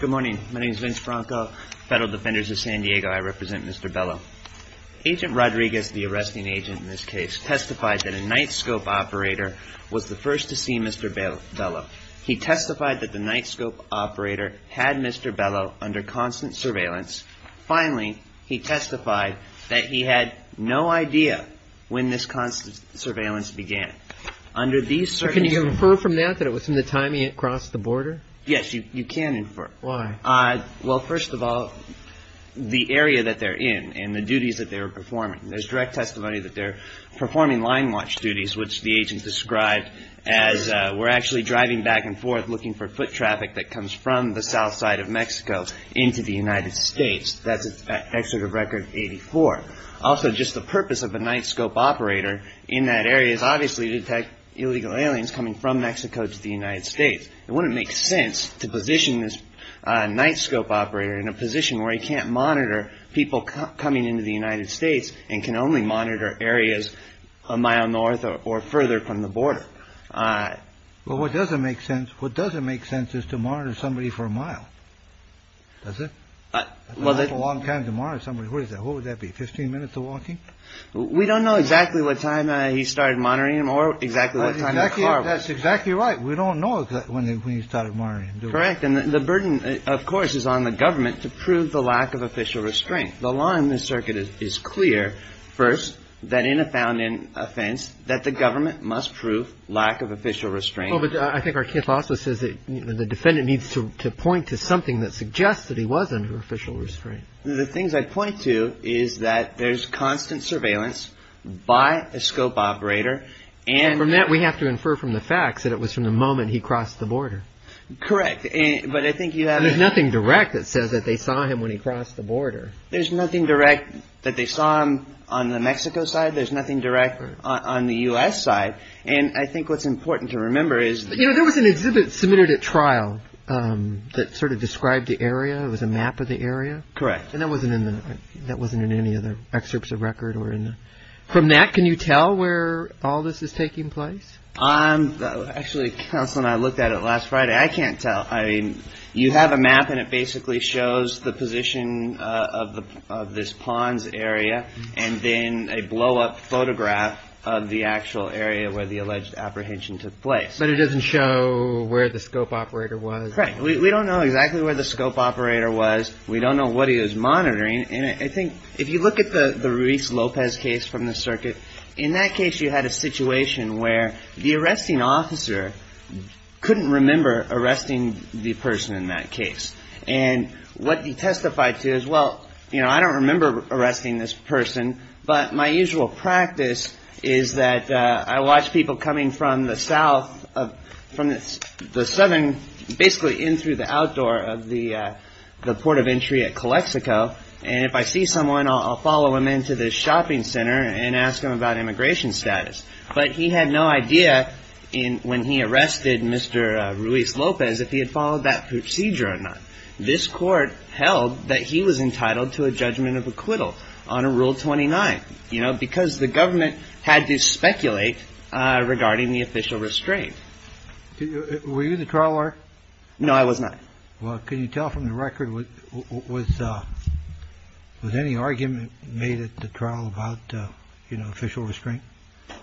Good morning. My name is Vince Franco, Federal Defenders of San Diego. I represent Mr. Bello. Agent Rodriguez, the arresting agent in this case, testified that a night scope operator was the first to see Mr. Bello. He testified that the night scope operator had Mr. Bello under constant surveillance. Finally, he testified that he had no idea when this constant surveillance began. Can you infer from that that it was from the time he had crossed the border? Yes, you can infer. Why? Well, first of all, the area that they're in and the duties that they were performing, there's direct testimony that they're performing line watch duties, which the agent described as we're actually driving back and forth looking for foot traffic that comes from the south side of Mexico into the United States. That's at Exit of Record 84. Also, just the purpose of a night scope operator in that area is obviously to detect illegal aliens coming from Mexico to the United States. It wouldn't make sense to position this night scope operator in a position where he can't monitor people coming into the United States and can only monitor areas a mile north or further from the border. Well, what doesn't make sense, what doesn't make sense is to monitor somebody for a mile. Does it? Well, that's a long time to monitor somebody. What is that? What would that be, 15 minutes of walking? We don't know exactly what time he started monitoring him or exactly what time. That's exactly right. We don't know when he started monitoring him. Correct. And the burden, of course, is on the government to prove the lack of official restraint. The law in this circuit is clear. First, that in a found in offense that the government must prove lack of official restraint. I think our case also says that the defendant needs to point to something that suggests that he was under official restraint. The things I point to is that there's constant surveillance by a scope operator. And from that, we have to infer from the facts that it was from the moment he crossed the border. Correct. But I think you have nothing direct that says that they saw him when he crossed the border. There's nothing direct that they saw him on the Mexico side. There's nothing direct on the U.S. side. And I think what's important to remember is that there was an exhibit submitted at trial that sort of described the area. It was a map of the area. Correct. And that wasn't in any of the excerpts of record. From that, can you tell where all this is taking place? Actually, counsel and I looked at it last Friday. I can't tell. You have a map and it basically shows the position of this ponds area and then a blowup photograph of the actual area where the alleged apprehension took place. But it doesn't show where the scope operator was. Correct. We don't know exactly where the scope operator was. We don't know what he was monitoring. And I think if you look at the Ruiz Lopez case from the circuit, in that case you had a situation where the arresting officer couldn't remember arresting the person in that case. And what he testified to is, well, you know, I don't remember arresting this person. But my usual practice is that I watch people coming from the south, from the southern, basically in through the outdoor of the port of entry at Calexico. And if I see someone, I'll follow him into the shopping center and ask him about immigration status. But he had no idea when he arrested Mr. Ruiz Lopez if he had followed that procedure or not. No. There was one more thing that I want to point out. This court held that he was entitled to a judgment of acquittal on a Rule 29, you know, because the government had to speculate regarding the official restraint. Were you the trial? No, I was not. Well, can you tell from the record? Was any argument made at the trial about, you know, official restraint?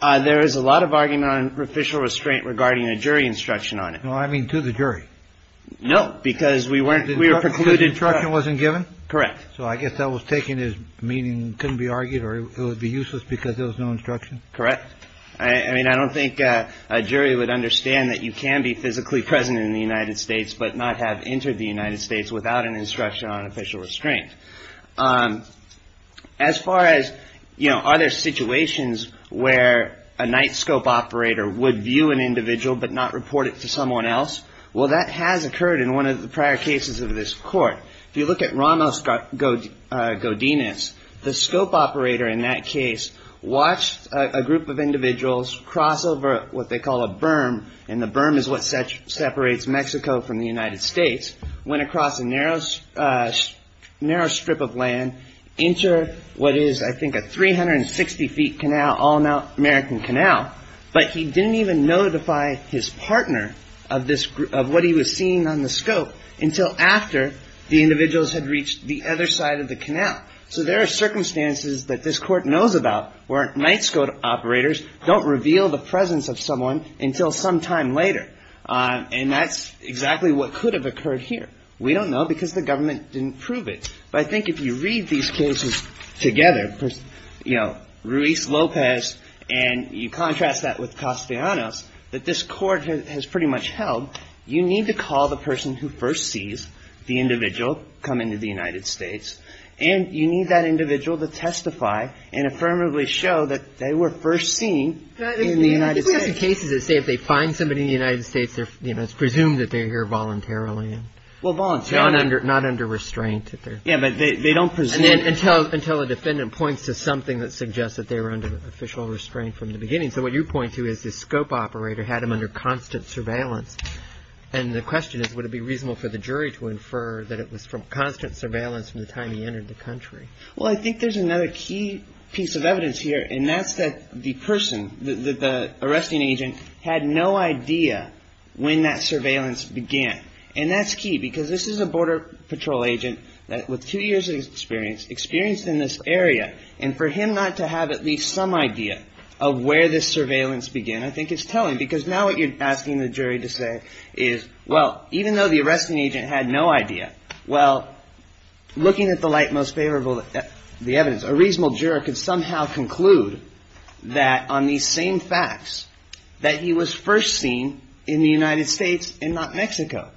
There is a lot of argument on official restraint regarding a jury instruction on it. Well, I mean, to the jury. No, because we weren't. We were precluded. Instruction wasn't given. Correct. So I guess that was taken as meaning couldn't be argued or it would be useless because there was no instruction. Correct. I mean, I don't think a jury would understand that you can be physically present in the United States, but not have entered the United States without an instruction on official restraint. As far as, you know, are there situations where a night scope operator would view an individual but not report it to someone else? Well, that has occurred in one of the prior cases of this court. If you look at Ramos Godinez, the scope operator in that case watched a group of individuals cross over what they call a berm. And the berm is what separates Mexico from the United States. Went across a narrow strip of land into what is, I think, a 360-feet canal, all-American canal. But he didn't even notify his partner of what he was seeing on the scope until after the individuals had reached the other side of the canal. So there are circumstances that this court knows about where night scope operators don't reveal the presence of someone until sometime later. And that's exactly what could have occurred here. We don't know because the government didn't prove it. But I think if you read these cases together, you know, Ruiz, Lopez, and you contrast that with Castellanos, that this court has pretty much held. You need to call the person who first sees the individual come into the United States. And you need that individual to testify and affirmatively show that they were first seen in the United States. I think we have some cases that say if they find somebody in the United States, you know, it's presumed that they're here voluntarily. Well, voluntarily. Not under restraint. Yeah, but they don't presume. Until a defendant points to something that suggests that they were under official restraint from the beginning. And so what you point to is the scope operator had him under constant surveillance. And the question is, would it be reasonable for the jury to infer that it was from constant surveillance from the time he entered the country? Well, I think there's another key piece of evidence here. And that's that the person, the arresting agent, had no idea when that surveillance began. And that's key because this is a border patrol agent with two years of experience, experienced in this area. And for him not to have at least some idea of where this surveillance began, I think is telling. Because now what you're asking the jury to say is, well, even though the arresting agent had no idea, well, looking at the light most favorable, the evidence, a reasonable juror could somehow conclude that on these same facts that he was first seen in the United States and not Mexico.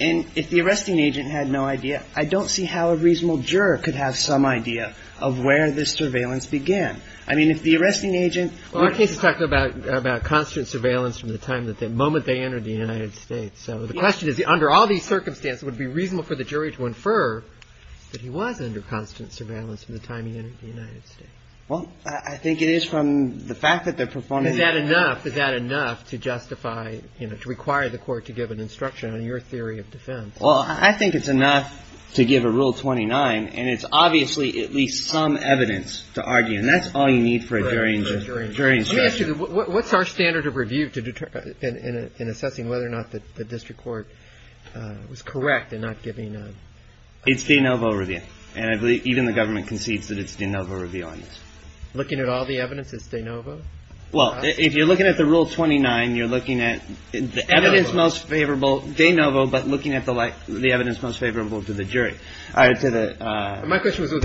And if the arresting agent had no idea, I don't see how a reasonable juror could have some idea of where this surveillance began. I mean, if the arresting agent or case is talking about constant surveillance from the time that the moment they entered the United States. So the question is, under all these circumstances, would it be reasonable for the jury to infer that he was under constant surveillance from the time he entered the United States? Well, I think it is from the fact that they're performing. Is that enough? Is that enough to justify, to require the court to give an instruction on your theory of defense? Well, I think it's enough to give a rule 29 and it's obviously at least some evidence to argue. And that's all you need for a jury instruction. What's our standard of review in assessing whether or not the district court was correct in not giving a. It's de novo review. And I believe even the government concedes that it's de novo review on this. Looking at all the evidence, it's de novo? Well, if you're looking at the rule 29, you're looking at the evidence most favorable de novo, but looking at the like the evidence most favorable to the jury or to the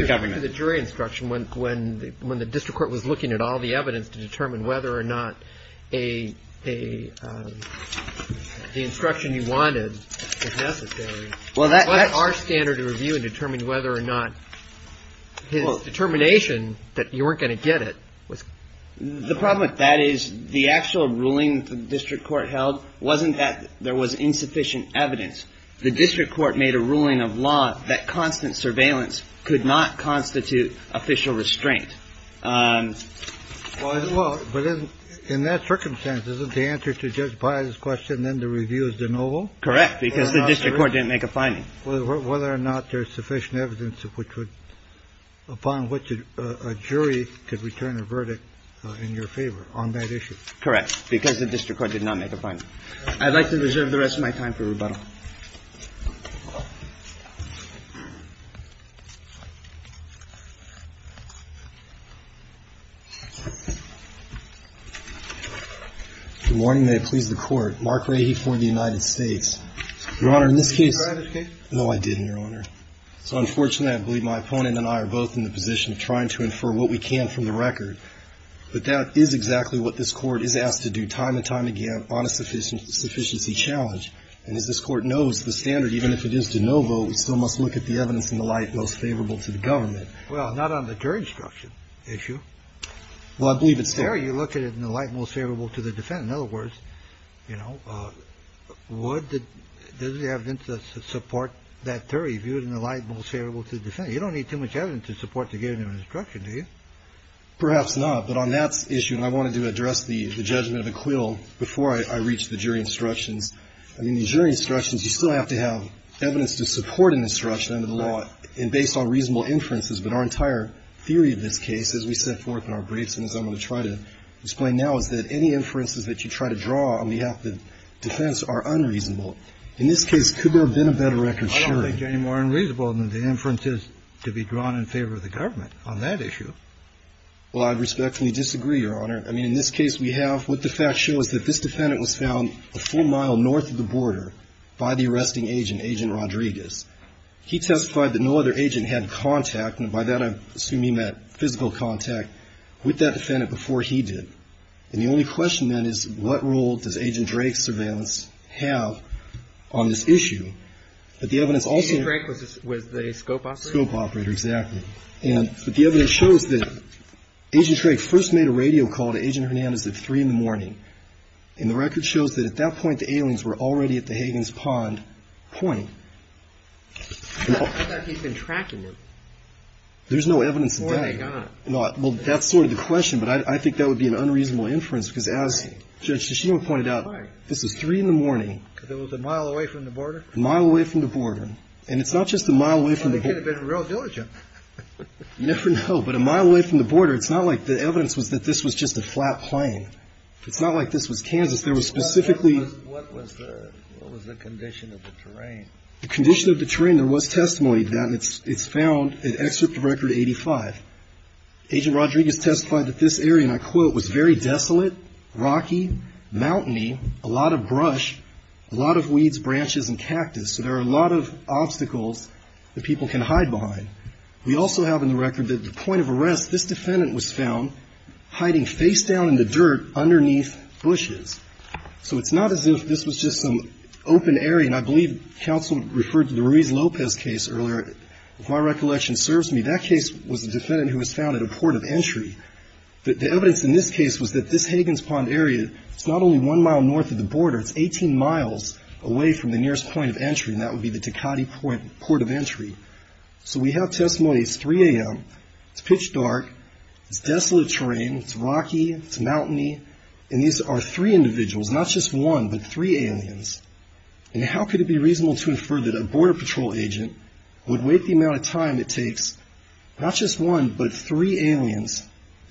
government. The jury instruction went when when the district court was looking at all the evidence to determine whether or not a. The instruction you wanted was necessary. Well, that's our standard to review and determine whether or not his determination that you weren't going to get it was. The problem with that is the actual ruling the district court held wasn't that there was insufficient evidence. The district court made a ruling of law that constant surveillance could not constitute official restraint. Well, but in that circumstance, isn't the answer to Judge Biles question then the review is de novo? Correct, because the district court didn't make a finding. Whether or not there's sufficient evidence upon which a jury could return a verdict in your favor on that issue. Correct, because the district court did not make a finding. I'd like to reserve the rest of my time for rebuttal. Good morning. May it please the Court. Mark Rahe for the United States. Your Honor, in this case. Did you try that case? No, I didn't, Your Honor. So unfortunately, I believe my opponent and I are both in the position of trying to infer what we can from the record. But that is exactly what this Court is asked to do time and time again on a sufficiency challenge. And as this Court knows, the standard, even if it is de novo, we still must look at the evidence in the light most favorable to the government. Well, not on the jury instruction issue. Well, I believe it's there. You look at it in the light most favorable to the defendant. In other words, you know, would the evidence support that theory viewed in the light most favorable to the defendant? You don't need too much evidence to support to give them an instruction, do you? Perhaps not. But on that issue, and I wanted to address the judgment of the quill before I reach the jury instructions. I mean, the jury instructions, you still have to have evidence to support an instruction under the law and based on reasonable inferences. But our entire theory of this case, as we set forth in our briefs and as I'm going to try to explain now, is that any inferences that you try to draw on behalf of the defense are unreasonable. In this case, could there have been a better record? I don't think they're any more unreasonable than the inferences to be drawn in favor of the government on that issue. Well, I respectfully disagree, Your Honor. I mean, in this case we have what the facts show is that this defendant was found a full mile north of the border by the arresting agent, Agent Rodriguez. He testified that no other agent had contact, and by that I assume he meant physical contact, with that defendant before he did. And the only question, then, is what role does Agent Drake's surveillance have on this issue? But the evidence also. Agent Drake was the scope operator? Scope operator, exactly. And the evidence shows that Agent Drake first made a radio call to Agent Hernandez at 3 in the morning. And the record shows that at that point the aliens were already at the Higgins Pond point. I thought he'd been tracking them. There's no evidence of that. Before they got it. Well, that's sort of the question, but I think that would be an unreasonable inference, because as Judge Shishima pointed out, this was 3 in the morning. Because it was a mile away from the border? A mile away from the border. And it's not just a mile away from the border. You never know. But a mile away from the border, it's not like the evidence was that this was just a flat plain. It's not like this was Kansas. There was specifically. What was the condition of the terrain? The condition of the terrain, there was testimony to that, and it's found in Excerpt Record 85. Agent Rodriguez testified that this area, and I quote, was very desolate, rocky, mountainy, a lot of brush, a lot of weeds, branches, and cactus. So there are a lot of obstacles that people can hide behind. We also have in the record that at the point of arrest, this defendant was found hiding face down in the dirt underneath bushes. So it's not as if this was just some open area, and I believe counsel referred to the Ruiz-Lopez case earlier, if my recollection serves me. That case was a defendant who was found at a port of entry. The evidence in this case was that this Higgins Pond area, it's not only one mile north of the border, it's 18 miles away from the nearest point of entry, and that would be the Tecate Port of Entry. So we have testimony. It's 3 a.m. It's pitch dark. It's desolate terrain. It's rocky. It's mountainy. And these are three individuals, not just one, but three aliens. And how could it be reasonable to infer that a Border Patrol agent would wait the amount of time it takes, not just one, but three aliens,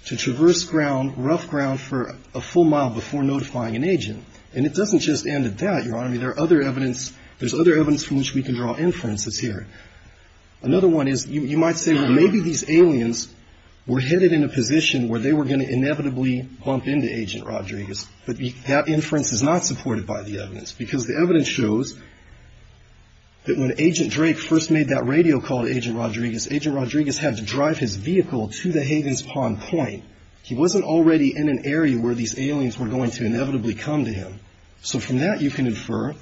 to traverse ground, rough ground, for a full mile before notifying an agent? And it doesn't just end at that, Your Honor. I mean, there are other evidence. There's other evidence from which we can draw inferences here. Another one is you might say, well, maybe these aliens were headed in a position where they were going to inevitably bump into Agent Rodriguez. But that inference is not supported by the evidence, because the evidence shows that when Agent Drake first made that radio call to Agent Rodriguez, Agent Rodriguez had to drive his vehicle to the Higgins Pond point. He wasn't already in an area where these aliens were going to inevitably come to him. So from that, you can infer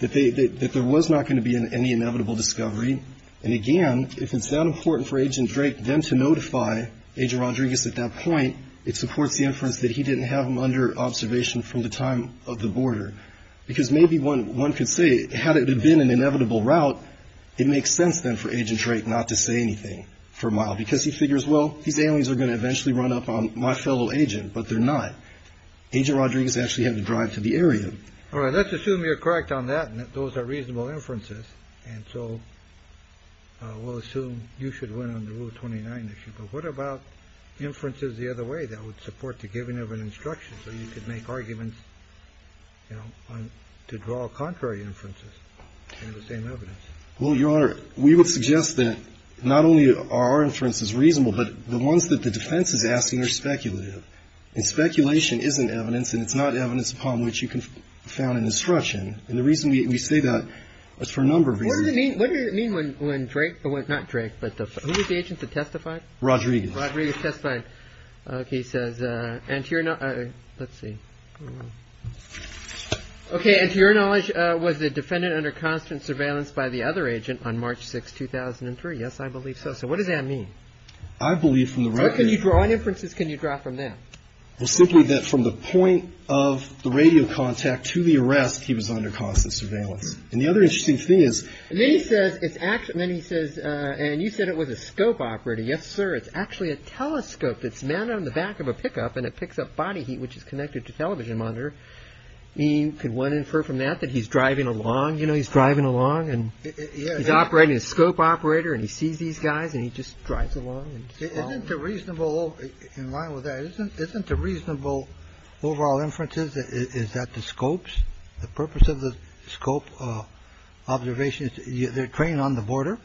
that there was not going to be any inevitable discovery. And, again, if it's that important for Agent Drake then to notify Agent Rodriguez at that point, it supports the inference that he didn't have them under observation from the time of the border. Because maybe one could say, had it been an inevitable route, it makes sense then for Agent Drake not to say anything for a mile, because he figures, well, these aliens are going to eventually run up on my fellow agent. But they're not. Agent Rodriguez actually had to drive to the area. All right. Let's assume you're correct on that. And those are reasonable inferences. And so we'll assume you should win on the Rule 29 issue. But what about inferences the other way that would support the giving of an instruction so you could make arguments, you know, to draw contrary inferences in the same evidence? Well, Your Honor, we would suggest that not only are our inferences reasonable, but the ones that the defense is asking are speculative. And speculation isn't evidence. And it's not evidence upon which you can found an instruction. And the reason we say that is for a number of reasons. What did it mean when Drake – not Drake, but who was the agent that testified? Rodriguez. Rodriguez testified. Okay. He says, and to your – let's see. Okay. And to your knowledge, was the defendant under constant surveillance by the other agent on March 6, 2003? Yes, I believe so. So what does that mean? I believe from the record – What can you draw on inferences can you draw from that? Well, simply that from the point of the radio contact to the arrest, he was under constant surveillance. And the other interesting thing is – And then he says it's – and then he says – and you said it was a scope operator. Yes, sir. It's actually a telescope that's mounted on the back of a pickup, and it picks up body heat, which is connected to television monitor. You could want to infer from that that he's driving along. You know, he's driving along and he's operating a scope operator. And he sees these guys and he just drives along. Isn't the reasonable – in line with that, isn't the reasonable overall inferences is that the scopes – the purpose of the scope observation is they're trained on the border?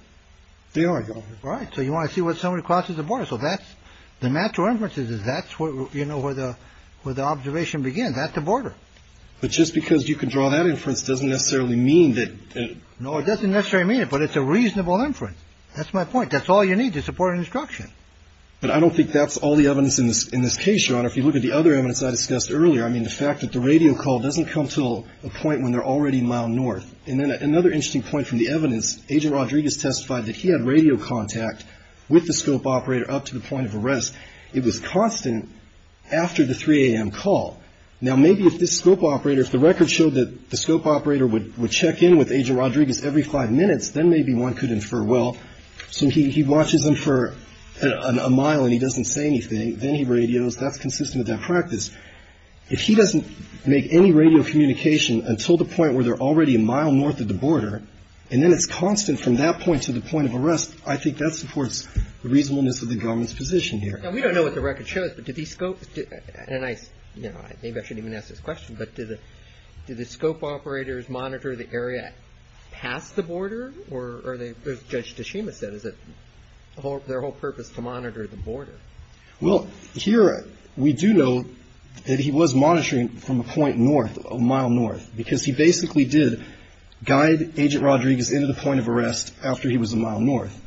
They are. Right. So you want to see what somebody crosses the border. So that's – the natural inferences is that's where, you know, where the observation begins, at the border. But just because you can draw that inference doesn't necessarily mean that – No, it doesn't necessarily mean it, but it's a reasonable inference. That's my point. That's all you need to support an instruction. But I don't think that's all the evidence in this case, Your Honor. If you look at the other evidence I discussed earlier, I mean, the fact that the radio call doesn't come to a point when they're already a mile north. And then another interesting point from the evidence, Agent Rodriguez testified that he had radio contact with the scope operator up to the point of arrest. It was constant after the 3 a.m. call. Now, maybe if this scope operator – if the record showed that the scope operator would check in with Agent Rodriguez every five minutes, then maybe one could infer, well, so he watches them for a mile and he doesn't say anything. Then he radios. That's consistent with that practice. If he doesn't make any radio communication until the point where they're already a mile north of the border, and then it's constant from that point to the point of arrest, I think that supports the reasonableness of the government's position here. Now, we don't know what the record shows, but do these scopes – and I – you know, maybe I shouldn't even ask this question, but do the scope operators monitor the area past the border, or are they – as Judge Tashima said, is it their whole purpose to monitor the border? Well, here we do know that he was monitoring from a point north, a mile north, because he basically did guide Agent Rodriguez into the point of arrest after he was a mile north.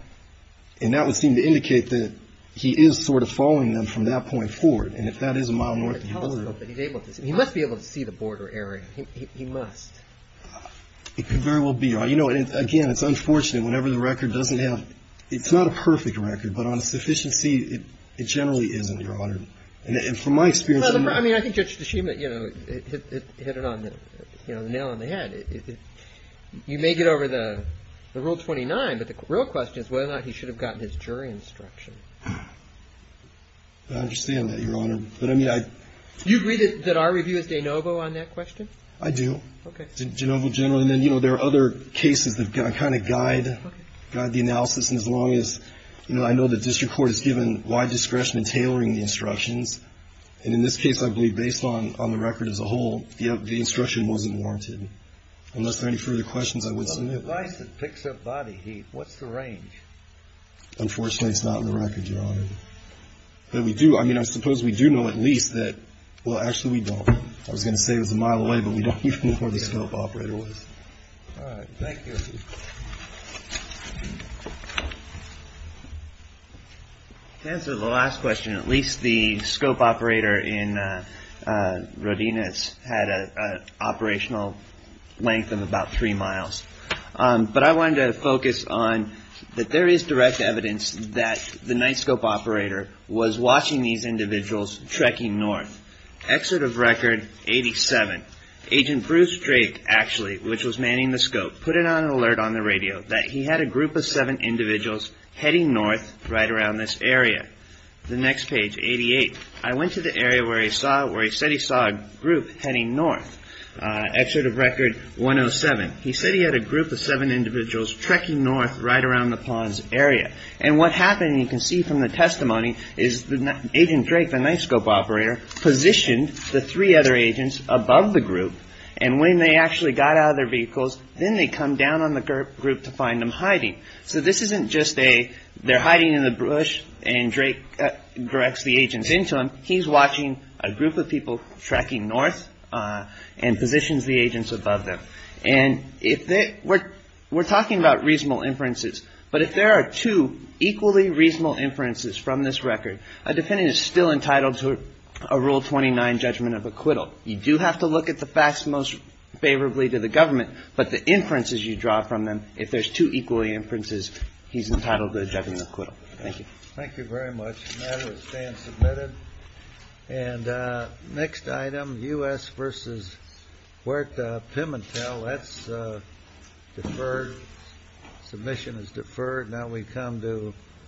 And that would seem to indicate that he is sort of following them from that point forward. And if that is a mile north of the border – He must be able to see the border area. He must. It could very well be. You know, again, it's unfortunate whenever the record doesn't have – it's not a perfect record, but on a sufficiency, it generally isn't, Your Honor. And from my experience – Well, I mean, I think Judge Tashima, you know, hit it on the nail on the head. You may get over the Rule 29, but the real question is whether or not he should have gotten his jury instruction. I understand that, Your Honor. But, I mean, I – Do you agree that our review is de novo on that question? I do. Okay. De novo generally. And then, you know, there are other cases that kind of guide the analysis, and as long as – you know, I know the district court has given wide discretion in tailoring the instructions. And in this case, I believe, based on the record as a whole, the instruction wasn't warranted, unless there are any further questions I would submit. The device that picks up body heat, what's the range? Unfortunately, it's not in the record, Your Honor. But we do – I mean, I suppose we do know at least that – well, actually, we don't. I was going to say it was a mile away, but we don't even know where the scope operator was. All right. Thank you. Thank you. To answer the last question, at least the scope operator in Rodinas had an operational length of about three miles. But I wanted to focus on that there is direct evidence that the night scope operator was watching these individuals trekking north. Excerpt of record 87. Agent Bruce Drake, actually, which was manning the scope, put it on an alert on the radio that he had a group of seven individuals heading north right around this area. The next page, 88. I went to the area where he saw – where he said he saw a group heading north. Excerpt of record 107. He said he had a group of seven individuals trekking north right around the ponds area. And what happened, you can see from the testimony, is Agent Drake, the night scope operator, positioned the three other agents above the group. And when they actually got out of their vehicles, then they come down on the group to find them hiding. So this isn't just they're hiding in the bush and Drake directs the agents into them. He's watching a group of people trekking north and positions the agents above them. And if they – we're talking about reasonable inferences. But if there are two equally reasonable inferences from this record, a defendant is still entitled to a Rule 29 judgment of acquittal. You do have to look at the facts most favorably to the government. But the inferences you draw from them, if there's two equally inferences, he's entitled to a judgment of acquittal. Thank you. Thank you very much. The matter is being submitted. And next item, U.S. v. Huerta Pimentel. That's deferred. Submission is deferred. Now we come to…